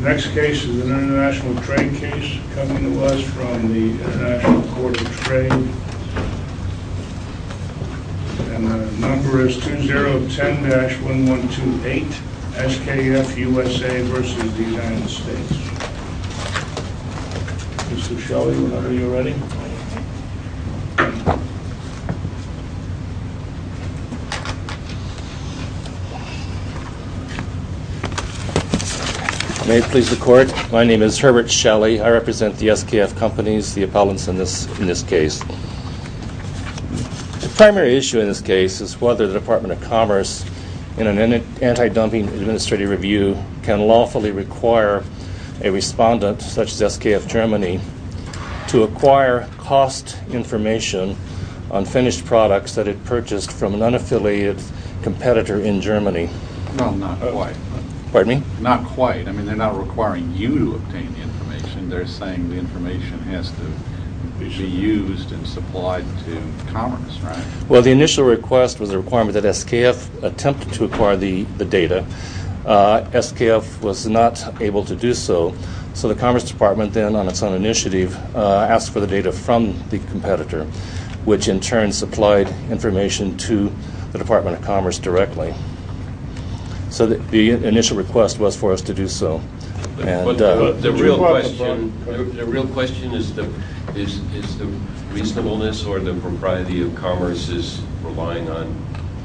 Next case is an international trade case coming to us from the International Court of Trade and the number is 2010-1128 SKF USA v. United States Mr. Shelley, whenever you're ready. May it please the court, my name is Herbert Shelley. I represent the SKF companies, the appellants in this case. The primary issue in this case is whether the Department of Commerce in an anti-dumping administrative review can lawfully require a respondent such as SKF Germany to acquire cost information on finished products that it purchased from an unaffiliated competitor in Germany. No, not quite. Pardon me? Not quite. I mean, they're not requiring you to obtain the information. They're saying the information has to be used and supplied to Commerce, right? So the initial request was for us to do so. But the real question is the reasonableness or the propriety of Commerce's relying on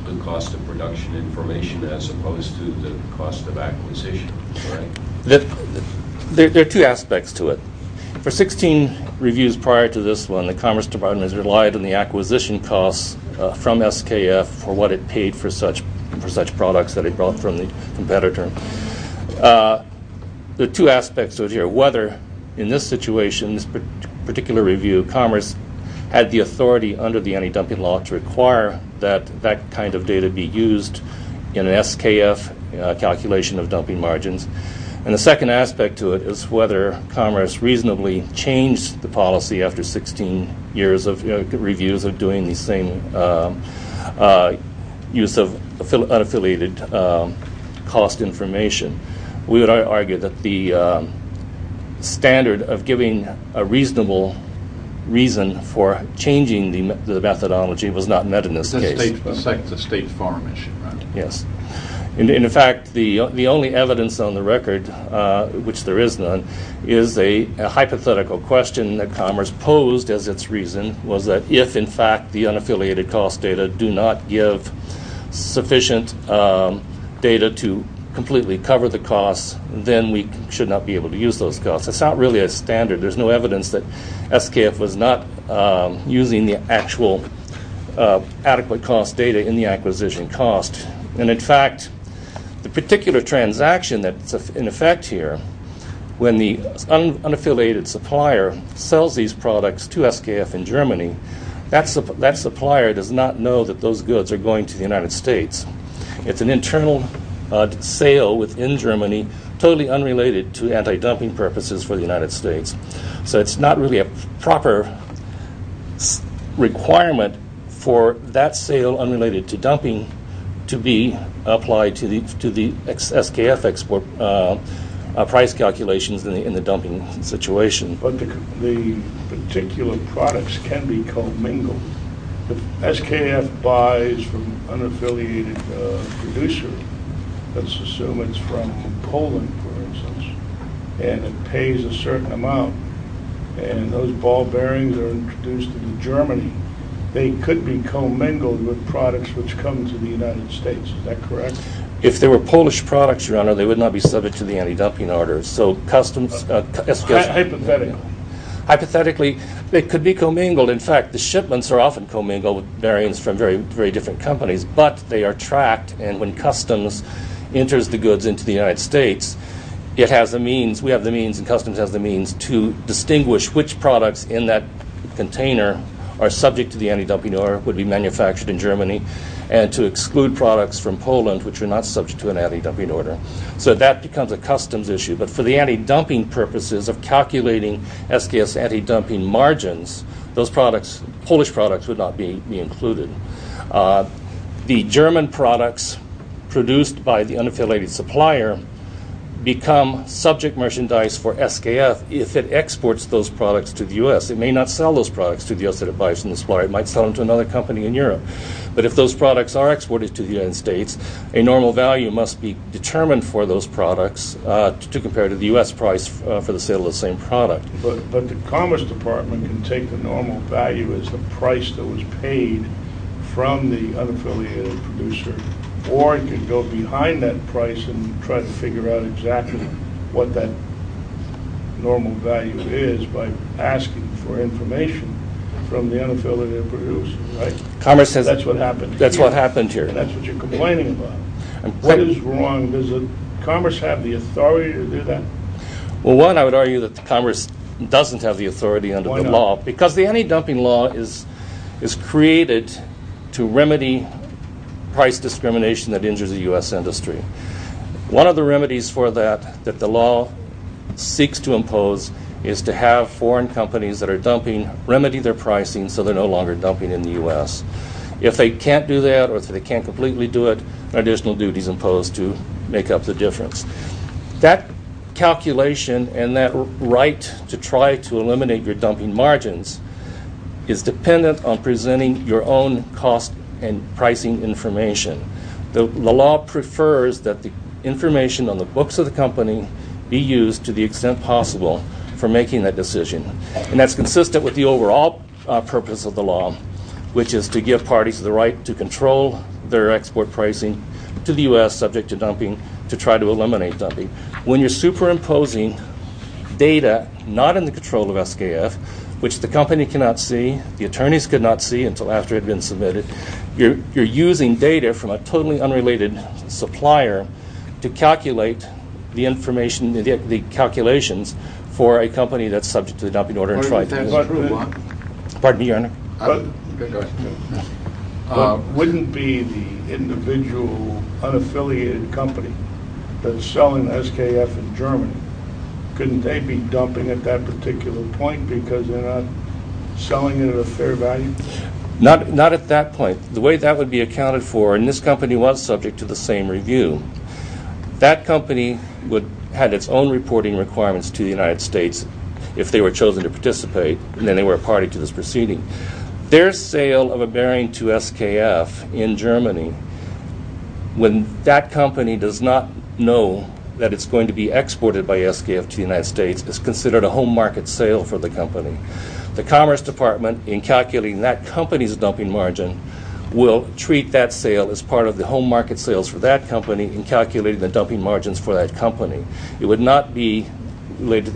the cost of production information as opposed to the cost of acquisition, right? There are two aspects to it. For 16 reviews prior to this one, the Commerce Department has relied on the acquisition costs from SKF for what it paid for such products that it brought from the competitor. The two aspects of it here, whether in this situation, this particular review, Commerce had the authority under the anti-dumping law to require that that kind of data be used in an SKF calculation of dumping margins. And the second aspect to it is whether Commerce reasonably changed the policy after 16 years of reviews of doing the same use of unaffiliated cost information. We would argue that the standard of giving a reasonable reason for changing the methodology was not met in this case. It's a state forum issue, right? Yes. And, in fact, the only evidence on the record, which there is none, is a hypothetical question that Commerce posed as its reason was that if, in fact, the unaffiliated cost data do not give sufficient data to completely cover the costs, then we should not be able to use those costs. It's not really a standard. There's no evidence that SKF was not using the actual adequate cost data in the acquisition cost. And, in fact, the particular transaction that's in effect here, when the unaffiliated supplier sells these products to SKF in Germany, that supplier does not know that those goods are going to the United States. It's an internal sale within Germany totally unrelated to anti-dumping purposes for the United States. So it's not really a proper requirement for that sale unrelated to dumping to be applied to the SKF export price calculations in the dumping situation. But the particular products can be co-mingled. If SKF buys from an unaffiliated producer, let's assume it's from Poland, for instance, and it pays a certain amount, and those ball bearings are introduced into Germany, they could be co-mingled with products which come to the United States. Is that correct? If they were Polish products, Your Honor, they would not be subject to the anti-dumping order. Hypothetically. Hypothetically, they could be co-mingled. In fact, the shipments are often co-mingled with bearings from very different companies, but they are tracked. And when customs enters the goods into the United States, it has the means, we have the means, and customs has the means to distinguish which products in that container are subject to the anti-dumping order, would be manufactured in Germany, and to exclude products from Poland which are not subject to an anti-dumping order. So that becomes a customs issue. But for the anti-dumping purposes of calculating SKF's anti-dumping margins, those products, Polish products, would not be included. The German products produced by the unaffiliated supplier become subject merchandise for SKF if it exports those products to the U.S. It may not sell those products to the U.S. that it buys from the supplier. But if those products are exported to the United States, a normal value must be determined for those products to compare to the U.S. price for the sale of the same product. But the Commerce Department can take the normal value as the price that was paid from the unaffiliated producer, or it can go behind that price and try to figure out exactly what that normal value is by asking for information from the unaffiliated producer. That's what happened here. That's what you're complaining about. What is wrong? Does Commerce have the authority to do that? Well, one, I would argue that Commerce doesn't have the authority under the law. Why not? Because the anti-dumping law is created to remedy price discrimination that injures the U.S. industry. One of the remedies for that that the law seeks to impose is to have foreign companies that are dumping remedy their pricing so they're no longer dumping in the U.S. If they can't do that or if they can't completely do it, an additional duty is imposed to make up the difference. That calculation and that right to try to eliminate your dumping margins is dependent on presenting your own cost and pricing information. The law prefers that the information on the books of the company be used to the extent possible for making that decision. And that's consistent with the overall purpose of the law, which is to give parties the right to control their export pricing to the U.S. subject to dumping to try to eliminate dumping. When you're superimposing data not in the control of SKF, which the company cannot see, the attorneys could not see until after it had been submitted, you're using data from a totally unrelated supplier to calculate the information, the calculations for a company that's subject to the dumping order. Wouldn't it be the individual unaffiliated company that's selling SKF in Germany, couldn't they be dumping at that particular point because they're not selling it at a fair value? Not at that point. The way that would be accounted for, and this company was subject to the same review, that company would have its own reporting requirements to the United States if they were chosen to participate and then they were a party to this proceeding. Their sale of a bearing to SKF in Germany, when that company does not know that it's going to be exported by SKF to the United States, is considered a home market sale for the company. The Commerce Department, in calculating that company's dumping margin, will treat that sale as part of the home market sales for that company in calculating the dumping margins for that company. It would not be used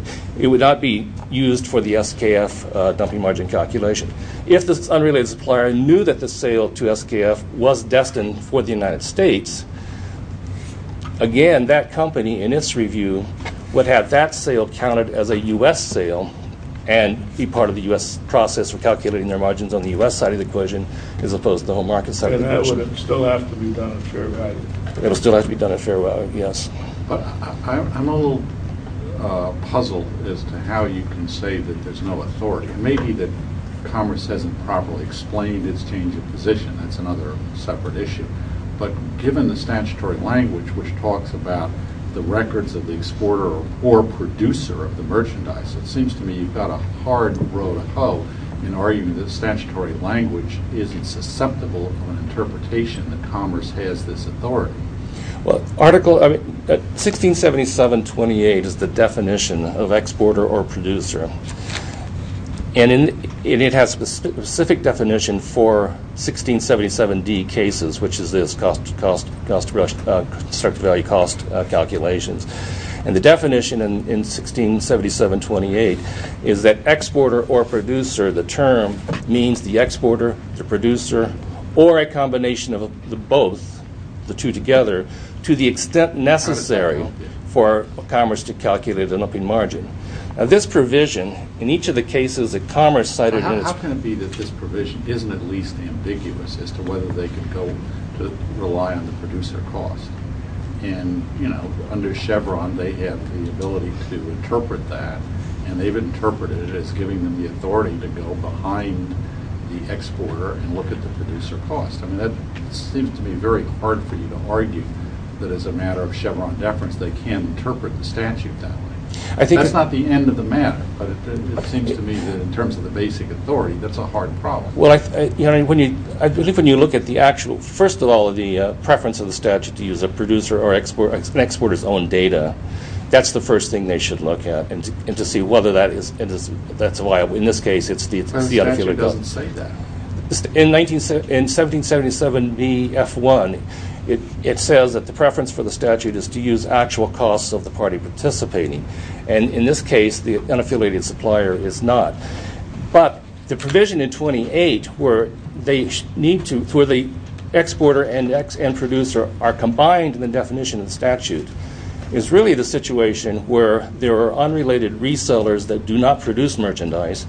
for the SKF dumping margin calculation. If this unrelated supplier knew that the sale to SKF was destined for the United States, again, that company, in its review, would have that sale counted as a U.S. sale and be part of the U.S. process for calculating their margins on the U.S. side of the equation as opposed to the home market side of the equation. And that would still have to be done at fair value? It would still have to be done at fair value, yes. But I'm a little puzzled as to how you can say that there's no authority. It may be that Commerce hasn't properly explained its change of position, that's another separate issue. But given the statutory language which talks about the records of the exporter or producer of the merchandise, it seems to me you've got a hard row to hoe in arguing that the statutory language isn't susceptible to an interpretation that Commerce has this authority. Well, Article 1677.28 is the definition of exporter or producer. And it has a specific definition for 1677D cases, which is this, constructive value cost calculations. And the definition in 1677.28 is that exporter or producer, the term means the exporter, the producer, or a combination of both, the two together, to the extent necessary for Commerce to calculate an upping margin. Now, this provision, in each of the cases that Commerce cited in its... How can it be that this provision isn't at least ambiguous as to whether they can go to rely on the producer cost? And, you know, under Chevron they have the ability to interpret that, and they've interpreted it as giving them the authority to go behind the exporter and look at the producer cost. I mean, that seems to be very hard for you to argue that as a matter of Chevron deference they can interpret the statute that way. That's not the end of the matter, but it seems to me that in terms of the basic authority, that's a hard problem. Well, I believe when you look at the actual... First of all, the preference of the statute to use a producer or an exporter's own data, that's the first thing they should look at and to see whether that is viable. In this case, it's the... The statute doesn't say that. In 1777bf1, it says that the preference for the statute is to use actual costs of the party participating, and in this case the unaffiliated supplier is not. But the provision in 28 where they need to... where the exporter and producer are combined in the definition of the statute is really the situation where there are unrelated resellers that do not produce merchandise,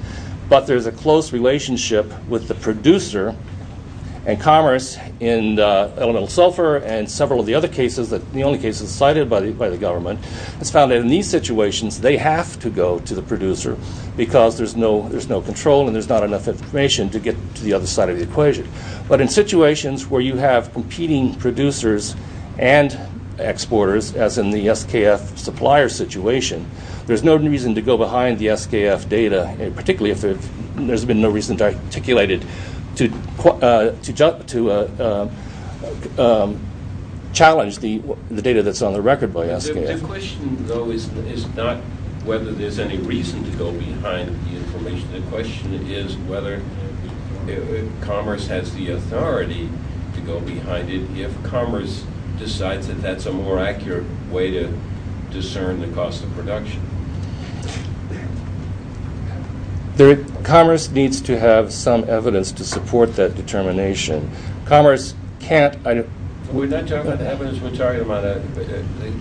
but there's a close relationship with the producer and commerce in elemental sulfur and several of the other cases, the only cases cited by the government, has found that in these situations they have to go to the producer because there's no control and there's not enough information to get to the other side of the equation. But in situations where you have competing producers and exporters, as in the SKF supplier situation, there's no reason to go behind the SKF data, particularly if there's been no reason articulated to challenge the data that's on the record by SKF. The question, though, is not whether there's any reason to go behind the information. The question is whether commerce has the authority to go behind it if commerce decides that that's a more accurate way to discern the cost of production. Commerce needs to have some evidence to support that determination. Commerce can't... We're not talking about the evidence, we're talking about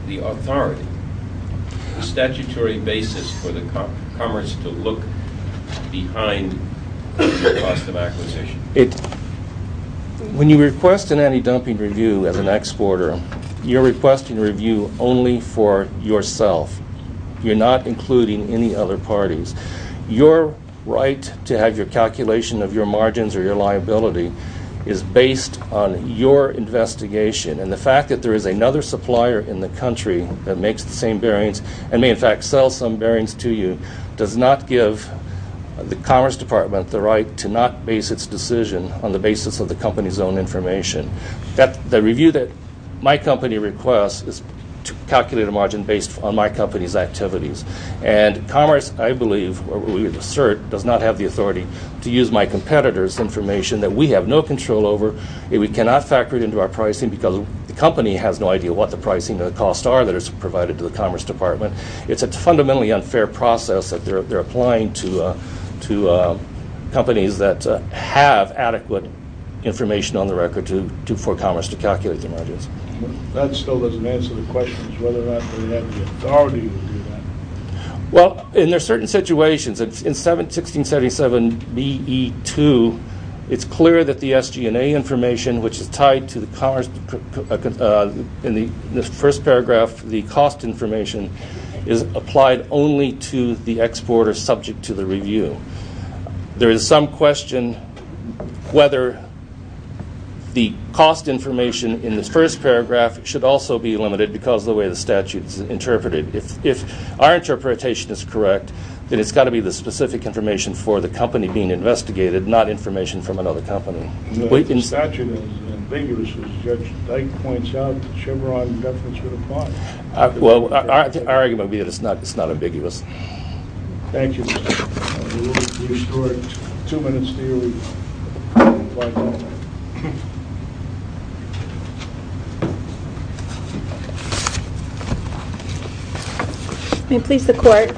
the authority, the statutory basis for the commerce to look behind the cost of acquisition. When you request an anti-dumping review as an exporter, you're requesting a review only for yourself. You're not including any other parties. Your right to have your calculation of your margins or your liability is based on your investigation. And the fact that there is another supplier in the country that makes the same bearings and may in fact sell some bearings to you does not give the Commerce Department the right to not base its decision on the basis of the company's own information. The review that my company requests is to calculate a margin based on my company's activities. And Commerce, I believe, or we assert, does not have the authority to use my competitor's information that we have no control over, that we cannot factor it into our pricing because the company has no idea what the pricing and the costs are that are provided to the Commerce Department. It's a fundamentally unfair process that they're applying to companies that have adequate information on the record for Commerce to calculate their margins. That still doesn't answer the question as to whether or not we have the authority to do that. Well, in certain situations, in 1677 B.E. 2, it's clear that the SG&A information, which is tied to the Commerce in the first paragraph, the cost information, is applied only to the exporter subject to the review. There is some question whether the cost information in the first paragraph should also be limited because of the way the statute is interpreted. If our interpretation is correct, then it's got to be the specific information for the company being investigated, not information from another company. The statute is ambiguous, as Judge Dyke points out. Chevron definitely should apply it. Well, our argument would be that it's not ambiguous. Thank you, Mr. Chairman. We will restore it two minutes later. May it please the Court.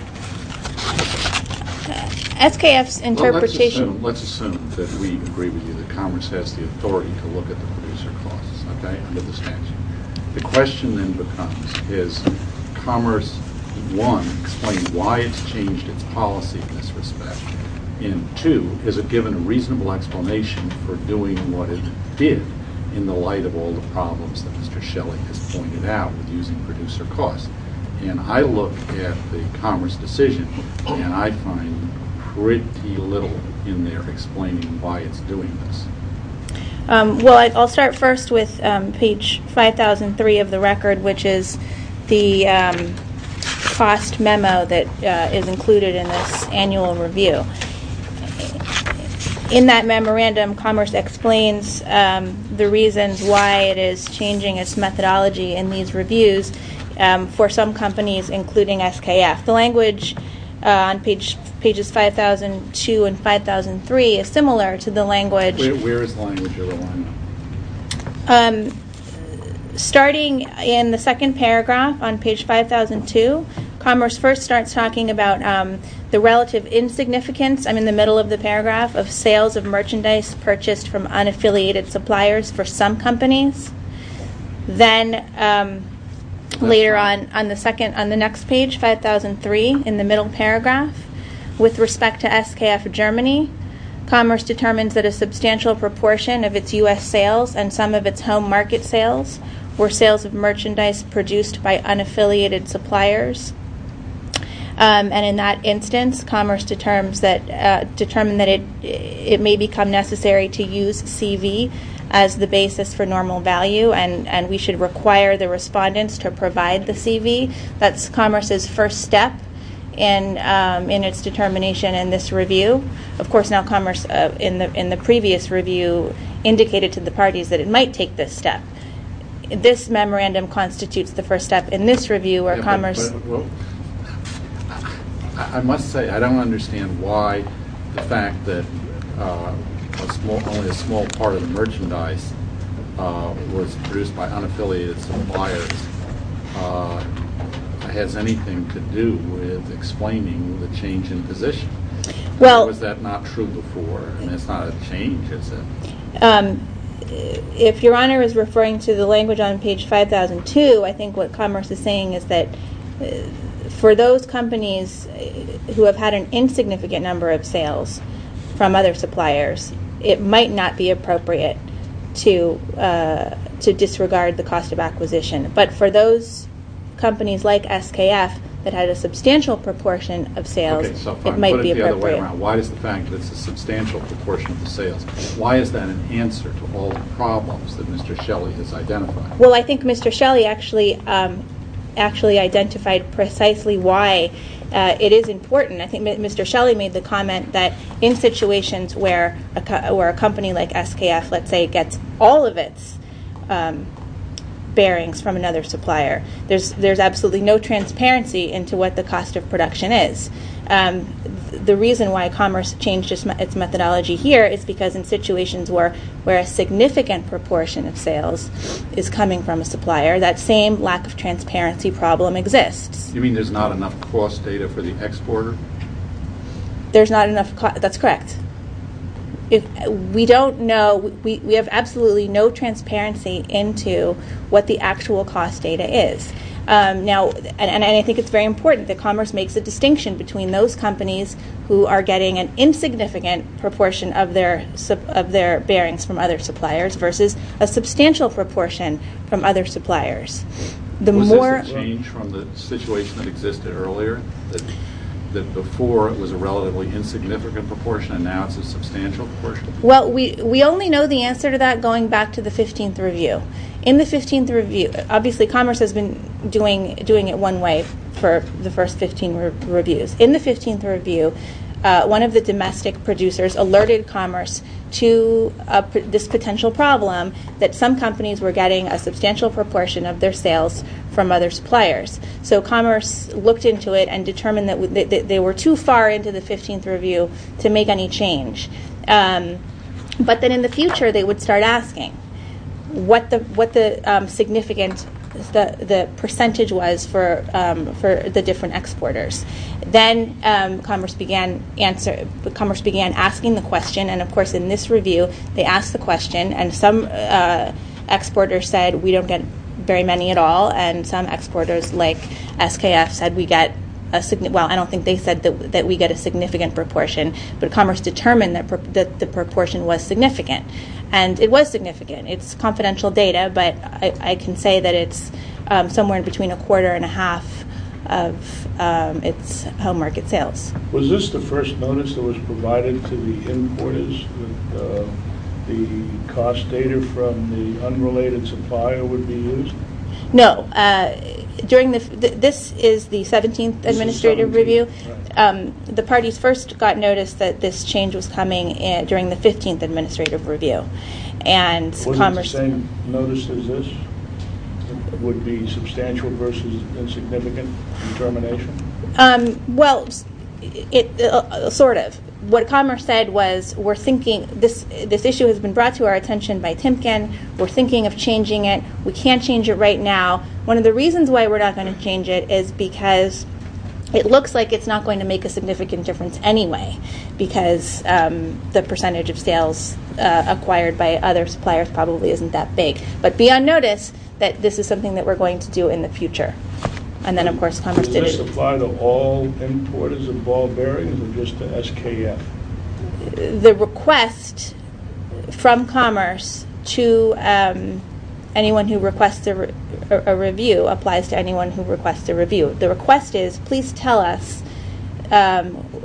SKF's interpretation. Let's assume that we agree with you that Commerce has the authority to look at the producer costs, okay, under the statute. The question then becomes, is Commerce, one, explain why it's changed its policy in this respect, and two, is it given a reasonable explanation for doing what it did in the light of all the problems that Mr. Shelley has pointed out with using producer costs? And I look at the Commerce decision, and I find pretty little in there explaining why it's doing this. Well, I'll start first with page 5003 of the record, which is the cost memo that is included in this annual review. In that memorandum, Commerce explains the reasons why it is changing its methodology in these reviews for some companies, including SKF. The language on pages 5002 and 5003 is similar to the language. Where is the language? Starting in the second paragraph on page 5002, Commerce first starts talking about the relative insignificance, I'm in the middle of the paragraph, of sales of merchandise purchased from unaffiliated suppliers for some companies. Then later on, on the next page, 5003, in the middle paragraph, with respect to SKF Germany, Commerce determines that a substantial proportion of its U.S. sales and some of its home market sales were sales of merchandise produced by unaffiliated suppliers. And in that instance, Commerce determined that it may become necessary to use CV as the basis for normal value, and we should require the respondents to provide the CV. That's Commerce's first step in its determination in this review. Of course, now Commerce, in the previous review, indicated to the parties that it might take this step. This memorandum constitutes the first step in this review where Commerce I must say, I don't understand why the fact that only a small part of the merchandise was produced by unaffiliated suppliers has anything to do with explaining the change in position. Was that not true before? It's not a change, is it? If Your Honor is referring to the language on page 5002, I think what Commerce is saying is that for those companies who have had an insignificant number of sales from other suppliers, it might not be appropriate to disregard the cost of acquisition. But for those companies like SKF that had a substantial proportion of sales, it might be appropriate. Why is the fact that it's a substantial proportion of sales, why is that an answer to all the problems that Mr. Shelley has identified? Well, I think Mr. Shelley actually identified precisely why it is important. I think Mr. Shelley made the comment that in situations where a company like SKF, let's say, gets all of its bearings from another supplier, there's absolutely no transparency into what the cost of production is. The reason why Commerce changed its methodology here is because in situations where a significant proportion of sales is coming from a supplier, that same lack of transparency problem exists. You mean there's not enough cost data for the exporter? There's not enough, that's correct. We don't know, we have absolutely no transparency into what the actual cost data is. And I think it's very important that Commerce makes a distinction between those companies who are getting an insignificant proportion of their bearings from other suppliers versus a substantial proportion from other suppliers. Was this a change from the situation that existed earlier, that before it was a relatively insignificant proportion and now it's a substantial proportion? Well, we only know the answer to that going back to the 15th review. Obviously Commerce has been doing it one way for the first 15 reviews. In the 15th review, one of the domestic producers alerted Commerce to this potential problem that some companies were getting a substantial proportion of their sales from other suppliers. So Commerce looked into it and determined that they were too far into the 15th review to make any change. But then in the future they would start asking what the significant percentage was for the different exporters. Then Commerce began asking the question, and of course in this review they asked the question, and some exporters said, we don't get very many at all, and some exporters like SKF said, well I don't think they said that we get a significant proportion, but Commerce determined that the proportion was significant. And it was significant. It's confidential data, but I can say that it's somewhere in between a quarter and a half of its home market sales. Was this the first notice that was provided to the importers that the cost data from the unrelated supplier would be used? No. This is the 17th administrative review. The parties first got notice that this change was coming during the 15th administrative review. Wasn't it the same notice as this? It would be substantial versus insignificant determination? Well, sort of. What Commerce said was, this issue has been brought to our attention by Timken, we're thinking of changing it, we can't change it right now. One of the reasons why we're not going to change it is because it looks like it's not going to make a significant difference anyway, because the percentage of sales acquired by other suppliers probably isn't that big. But be on notice that this is something that we're going to do in the future. And then of course Commerce didn't. Did this apply to all importers of ball bearings or just to SKF? The request from Commerce to anyone who requests a review applies to anyone who requests a review. The request is, please tell us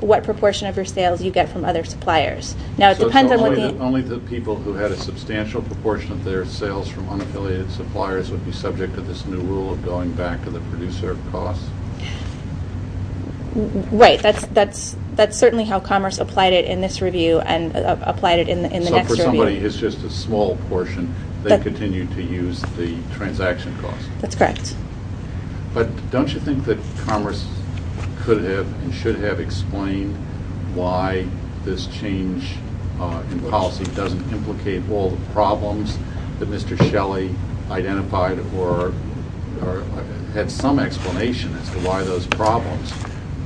what proportion of your sales you get from other suppliers. So only the people who had a substantial proportion of their sales from unaffiliated suppliers would be subject to this new rule of going back to the producer of costs? Right, that's certainly how Commerce applied it in this review and applied it in the next review. So for somebody who's just a small portion, they continue to use the transaction costs? That's correct. But don't you think that Commerce could have and should have explained why this change in policy doesn't implicate all the problems that Mr. Shelley identified or had some explanation as to why those problems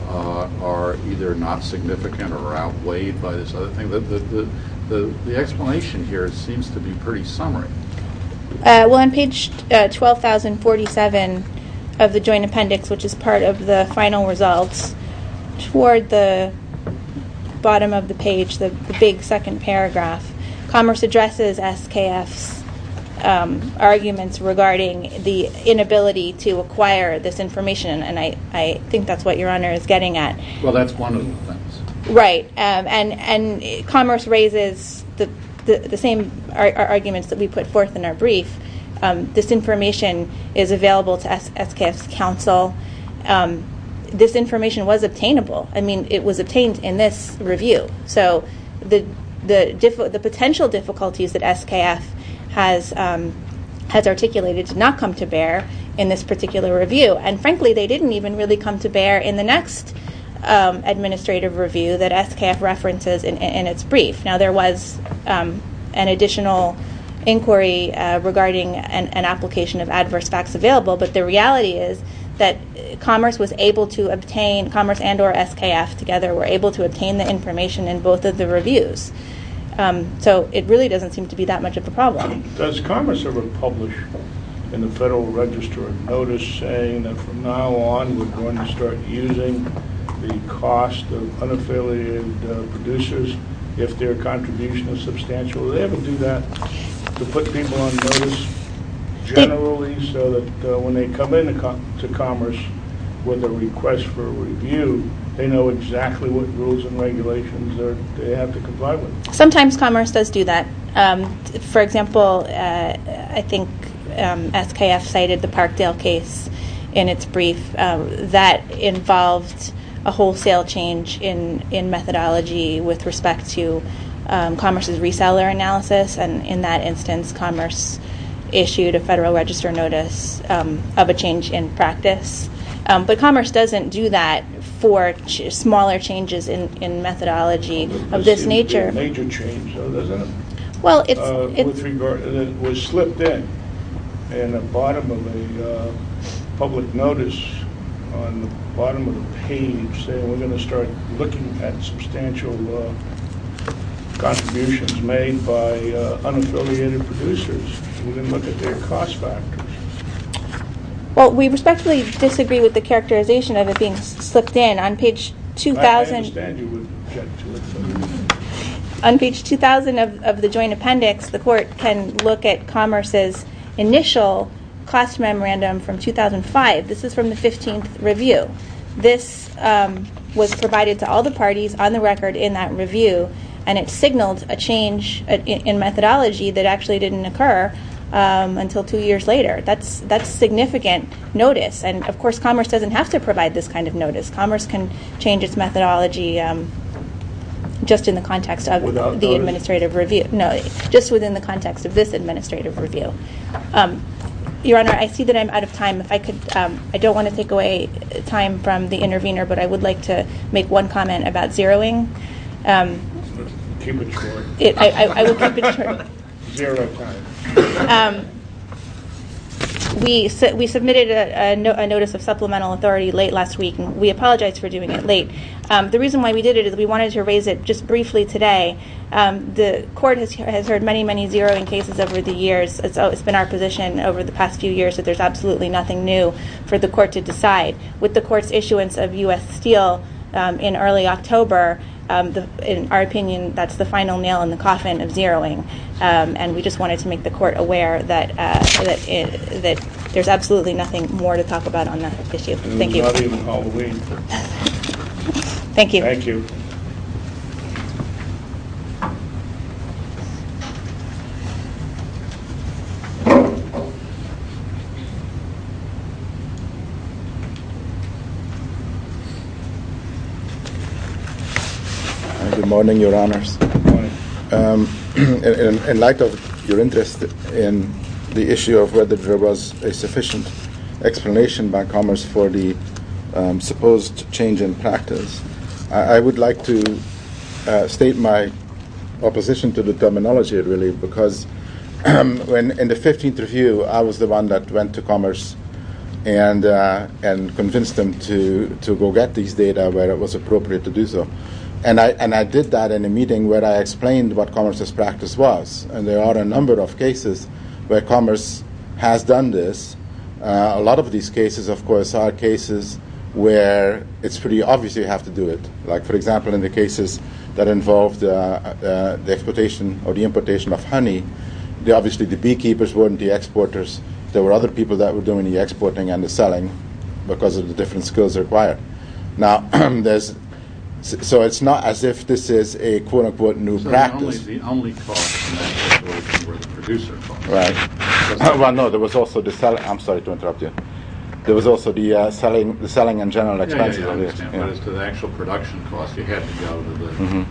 are either not significant or outweighed by this other thing? The explanation here seems to be pretty summary. Well, on page 12,047 of the joint appendix, which is part of the final results, toward the bottom of the page, the big second paragraph, Commerce addresses SKF's arguments regarding the inability to acquire this information, and I think that's what Your Honor is getting at. Well, that's one of the things. Right. And Commerce raises the same arguments that we put forth in our brief. This information is available to SKF's counsel. This information was obtainable. I mean, it was obtained in this review. So the potential difficulties that SKF has articulated did not come to bear in this particular review, and frankly, they didn't even really come to bear in the next administrative review that SKF references in its brief. Now, there was an additional inquiry regarding an application of adverse facts available, but the reality is that Commerce and or SKF together were able to obtain the information in both of the reviews. So it really doesn't seem to be that much of a problem. Does Commerce ever publish in the Federal Register a notice saying that from now on, we're going to start using the cost of unaffiliated producers if their contribution is substantial? Do they ever do that to put people on notice generally so that when they come into Commerce with a request for review, they know exactly what rules and regulations they have to comply with? Sometimes Commerce does do that. For example, I think SKF cited the Parkdale case in its brief. That involved a wholesale change in methodology with respect to Commerce's reseller analysis, and in that instance Commerce issued a Federal Register notice of a change in practice. But Commerce doesn't do that for smaller changes in methodology of this nature. Well, it was slipped in in the bottom of the public notice on the bottom of the page saying we're going to start looking at substantial contributions made by unaffiliated producers. We didn't look at their cost factors. Well, we respectfully disagree with the characterization of it being slipped in. I understand you would object to it. On page 2,000 of the joint appendix, the Court can look at Commerce's initial class memorandum from 2005. This is from the 15th review. This was provided to all the parties on the record in that review, and it signaled a change in methodology that actually didn't occur until two years later. That's significant notice, and of course Commerce doesn't have to provide this kind of notice. Commerce can change its methodology just in the context of the administrative review. No, just within the context of this administrative review. Your Honor, I see that I'm out of time. I don't want to take away time from the intervener, but I would like to make one comment about zeroing. Keep it short. I will keep it short. Zero time. We submitted a notice of supplemental authority late last week, and we apologize for doing it late. The reason why we did it is we wanted to raise it just briefly today. The Court has heard many, many zeroing cases over the years. It's been our position over the past few years that there's absolutely nothing new for the Court to decide. With the Court's issuance of U.S. Steel in early October, in our opinion, that's the final nail in the coffin of zeroing, and we just wanted to make the Court aware that there's absolutely nothing more to talk about on that issue. Thank you. Thank you. Good morning, Your Honors. Good morning. In light of your interest in the issue of whether there was a sufficient explanation by Commerce for the supposed change in practice, I would like to state my opposition to the terminology, really, because in the 15th review, I was the one that went to Commerce and convinced them to go get these data where it was appropriate to do so. And I did that in a meeting where I explained what Commerce's practice was. And there are a number of cases where Commerce has done this. A lot of these cases, of course, are cases where it's pretty obvious you have to do it. Like, for example, in the cases that involved the exportation or the importation of honey, obviously the beekeepers weren't the exporters. There were other people that were doing the exporting and the selling because of the different skills required. Now, so it's not as if this is a, quote, unquote, new practice. So the only cost in that situation were the producer costs. Right. Well, no, there was also the selling. I'm sorry to interrupt you. There was also the selling and general expenses. Yeah, I understand. But as to the actual production cost, you had to go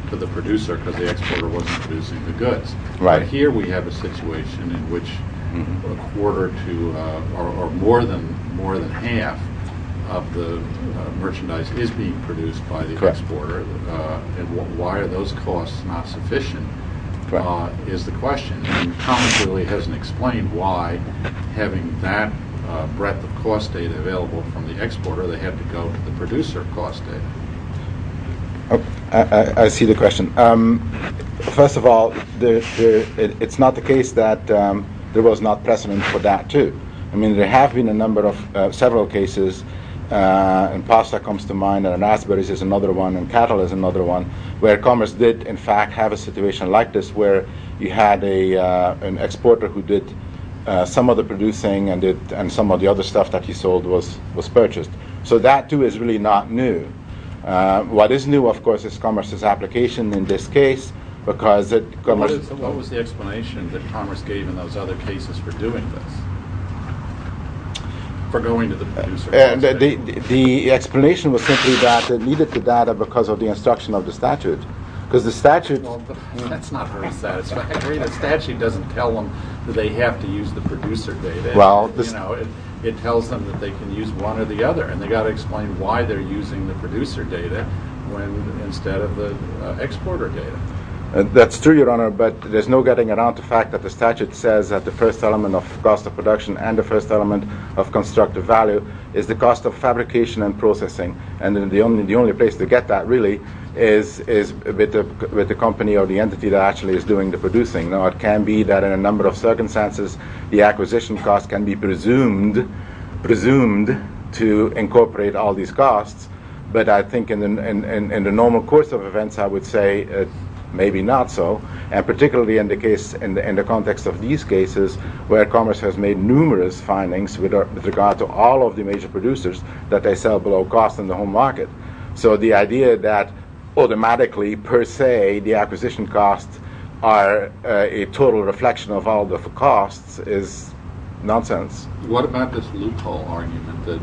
to the producer because the exporter wasn't producing the goods. Right. Now, here we have a situation in which a quarter to or more than half of the merchandise is being produced by the exporter. And why are those costs not sufficient is the question. And Commerce really hasn't explained why, having that breadth of cost data available from the exporter, they had to go to the producer cost data. I see the question. First of all, it's not the case that there was not precedent for that, too. I mean, there have been a number of several cases, and pasta comes to mind, and raspberries is another one, and cattle is another one, where Commerce did, in fact, have a situation like this, where you had an exporter who did some of the producing and some of the other stuff that he sold was purchased. So that, too, is really not new. What is new, of course, is Commerce's application in this case, because it goes to- What was the explanation that Commerce gave in those other cases for doing this, for going to the producer's data? The explanation was simply that they needed the data because of the instruction of the statute, because the statute- Well, that's not very satisfactory. The statute doesn't tell them that they have to use the producer data. Well, this- when instead of the exporter data. That's true, Your Honor, but there's no getting around the fact that the statute says that the first element of cost of production and the first element of constructive value is the cost of fabrication and processing, and the only place to get that, really, is with the company or the entity that actually is doing the producing. Now, it can be that in a number of circumstances the acquisition cost can be presumed to incorporate all these costs, but I think in the normal course of events I would say maybe not so, and particularly in the context of these cases where Commerce has made numerous findings with regard to all of the major producers that they sell below cost in the home market. So the idea that automatically, per se, the acquisition costs are a total reflection of all the costs is nonsense. What about this loophole argument that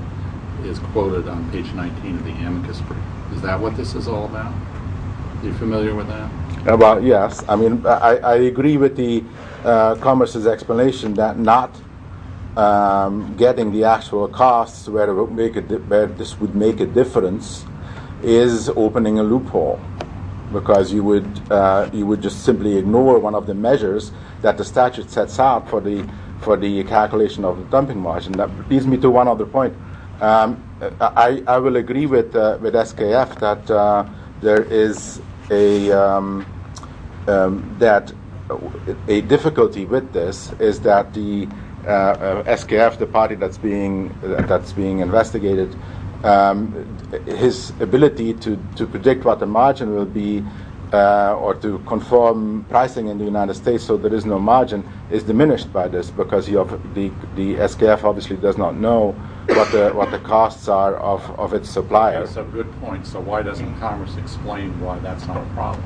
is quoted on page 19 of the amicus brief? Is that what this is all about? Are you familiar with that? Well, yes. I mean, I agree with Commerce's explanation that not getting the actual costs where this would make a difference is opening a loophole because you would just simply ignore one of the measures that the statute sets out for the calculation of the dumping margin. That leads me to one other point. I will agree with SKF that a difficulty with this is that the SKF, the party that's being investigated, his ability to predict what the margin will be or to conform pricing in the United States so there is no margin is diminished by this because the SKF obviously does not know what the costs are of its suppliers. That's a good point. So why doesn't Commerce explain why that's not a problem?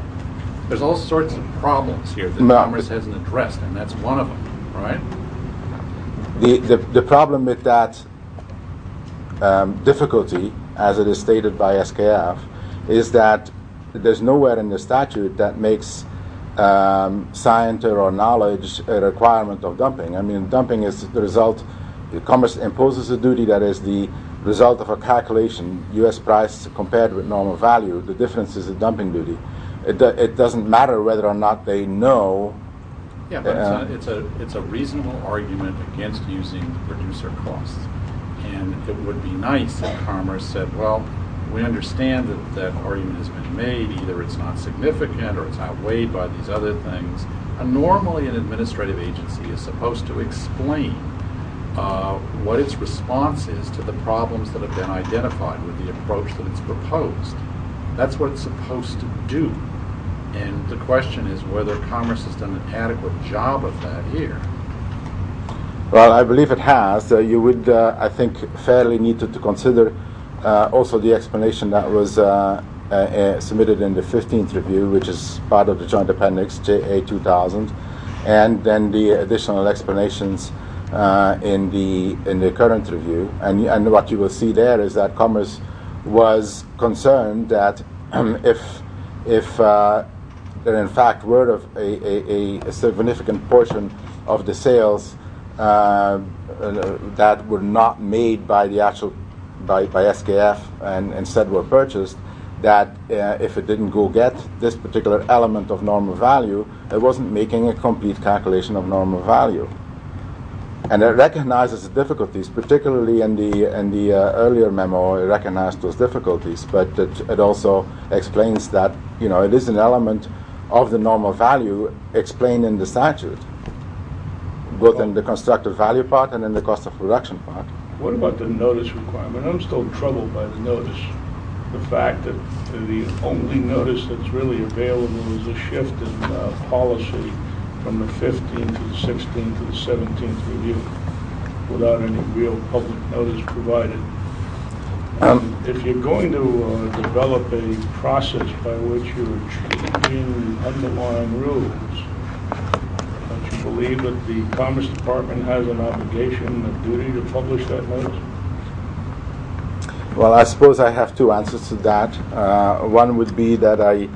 There's all sorts of problems here that Commerce hasn't addressed, and that's one of them, right? The problem with that difficulty, as it is stated by SKF, is that there's nowhere in the statute that makes science or knowledge a requirement of dumping. I mean, dumping is the result. Commerce imposes a duty that is the result of a calculation, U.S. price compared with normal value. The difference is the dumping duty. It doesn't matter whether or not they know. Yeah, but it's a reasonable argument against using the producer costs, and it would be nice if Commerce said, well, we understand that that argument has been made. Either it's not significant or it's outweighed by these other things. Normally an administrative agency is supposed to explain what its response is to the problems that have been identified with the approach that it's proposed. That's what it's supposed to do. And the question is whether Commerce has done an adequate job of that here. Well, I believe it has. You would, I think, fairly need to consider also the explanation that was submitted in the 15th review, which is part of the Joint Appendix JA2000, and then the additional explanations in the current review. And what you will see there is that Commerce was concerned that if there in fact were a significant portion of the sales that were not made by SKF and instead were purchased, that if it didn't go get this particular element of normal value, it wasn't making a complete calculation of normal value. And it recognizes the difficulties, particularly in the earlier memo it recognized those difficulties, but it also explains that it is an element of the normal value explained in the statute, both in the constructive value part and in the cost of production part. What about the notice requirement? And I'm still troubled by the notice. The fact that the only notice that's really available is a shift in policy from the 15th to the 16th to the 17th review, without any real public notice provided. If you're going to develop a process by which you are changing the underlying rules, don't you believe that the Commerce Department has an obligation and a duty to publish that notice? Well, I suppose I have two answers to that. One would be that I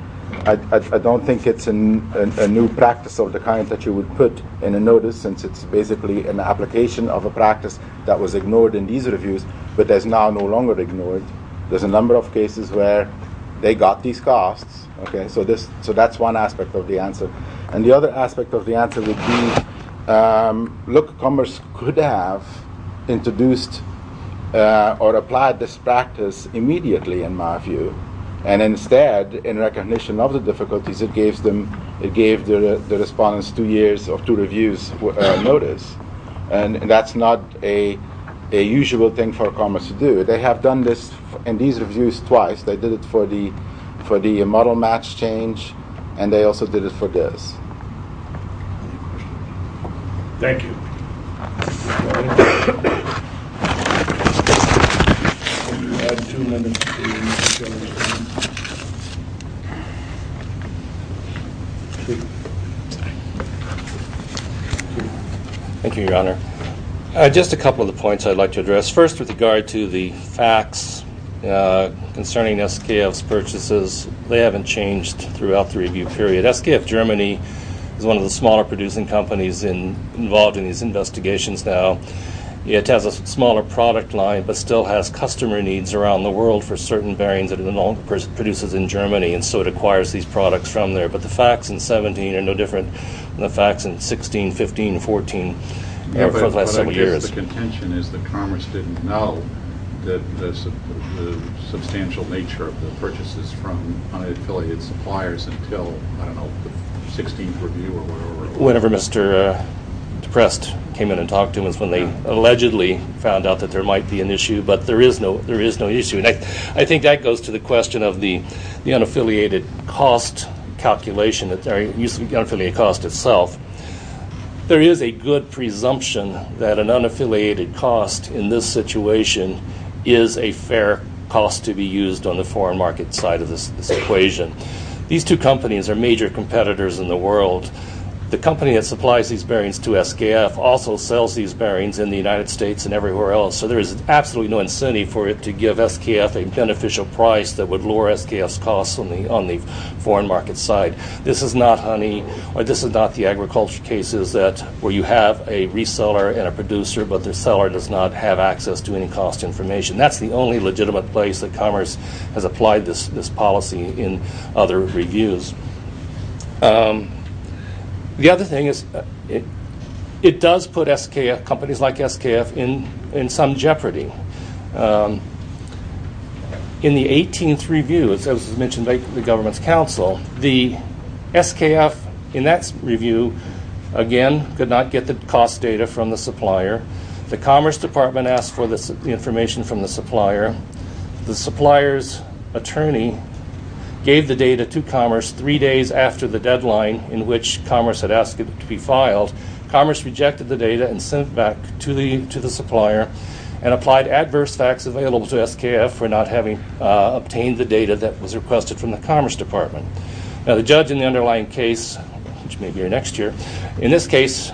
don't think it's a new practice of the kind that you would put in a notice, since it's basically an application of a practice that was ignored in these reviews, but is now no longer ignored. There's a number of cases where they got these costs. So that's one aspect of the answer. And the other aspect of the answer would be, look, Commerce could have introduced or applied this practice immediately, in my view. And instead, in recognition of the difficulties, it gave the respondents two years of two reviews notice. And that's not a usual thing for Commerce to do. They have done this in these reviews twice. They did it for the model match change, and they also did it for this. Thank you. Thank you, Your Honor. Just a couple of the points I'd like to address. First, with regard to the facts concerning SKF's purchases, they haven't changed throughout the review period. SKF Germany is one of the smaller producing companies involved in these investigations now. It has a smaller product line, but still has customer needs around the world for certain variants that it produces in Germany, and so it acquires these products from there. But the facts in 17 are no different than the facts in 16, 15, and 14 for the last several years. The contention is that Commerce didn't know the substantial nature of the purchases from unaffiliated suppliers until, I don't know, the 16th review or whatever it was. Whenever Mr. Deprest came in and talked to him is when they allegedly found out that there might be an issue, but there is no issue. And I think that goes to the question of the unaffiliated cost calculation, the unaffiliated cost itself. There is a good presumption that an unaffiliated cost in this situation is a fair cost to be used on the foreign market side of this equation. These two companies are major competitors in the world. The company that supplies these bearings to SKF also sells these bearings in the United States and everywhere else, so there is absolutely no incentive for it to give SKF a beneficial price that would lower SKF's costs on the foreign market side. This is not the agriculture cases where you have a reseller and a producer, but the seller does not have access to any cost information. That's the only legitimate place that Commerce has applied this policy in other reviews. The other thing is it does put SKF, companies like SKF, in some jeopardy. In the 18th review, as mentioned by the government's counsel, the SKF in that review, again, could not get the cost data from the supplier. The Commerce Department asked for the information from the supplier. The supplier's attorney gave the data to Commerce three days after the deadline in which Commerce had asked it to be filed. Commerce rejected the data and sent it back to the supplier and applied adverse facts available to SKF for not having obtained the data that was requested from the Commerce Department. Now, the judge in the underlying case, which may be next year, in this case,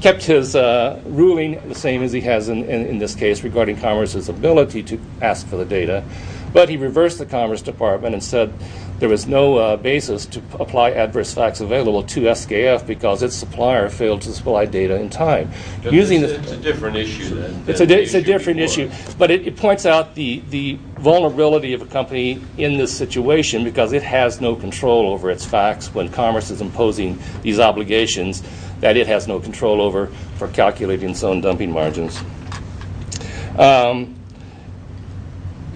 kept his ruling the same as he has in this case regarding Commerce's ability to ask for the data, but he reversed the Commerce Department and said there was no basis to apply adverse facts available to SKF because its supplier failed to supply data in time. It's a different issue, but it points out the vulnerability of a company in this situation because it has no control over its facts when Commerce is imposing these obligations that it has no control over for calculating its own dumping margins.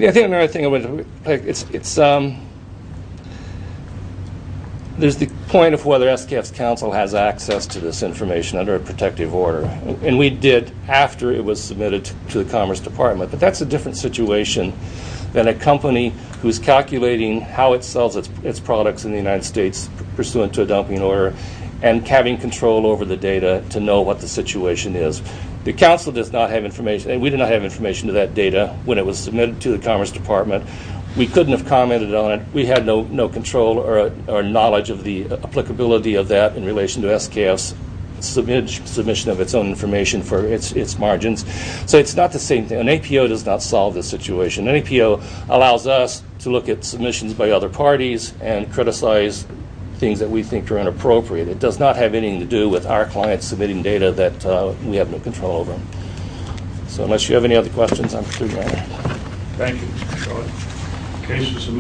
There's the point of whether SKF's counsel has access to this information under a protective order, and we did after it was submitted to the Commerce Department, but that's a different situation than a company who's calculating how it sells its products in the United States pursuant to a dumping order and having control over the data to know what the situation is. The counsel does not have information, and we did not have information to that data when it was submitted to the Commerce Department. We couldn't have commented on it. We had no control or knowledge of the applicability of that in relation to SKF's submission of its own information for its margins. So it's not the same thing. An APO does not solve this situation. An APO allows us to look at submissions by other parties and criticize things that we think are inappropriate. It does not have anything to do with our clients submitting data that we have no control over. So unless you have any other questions, I'm through, Your Honor. Thank you, Mr. Short.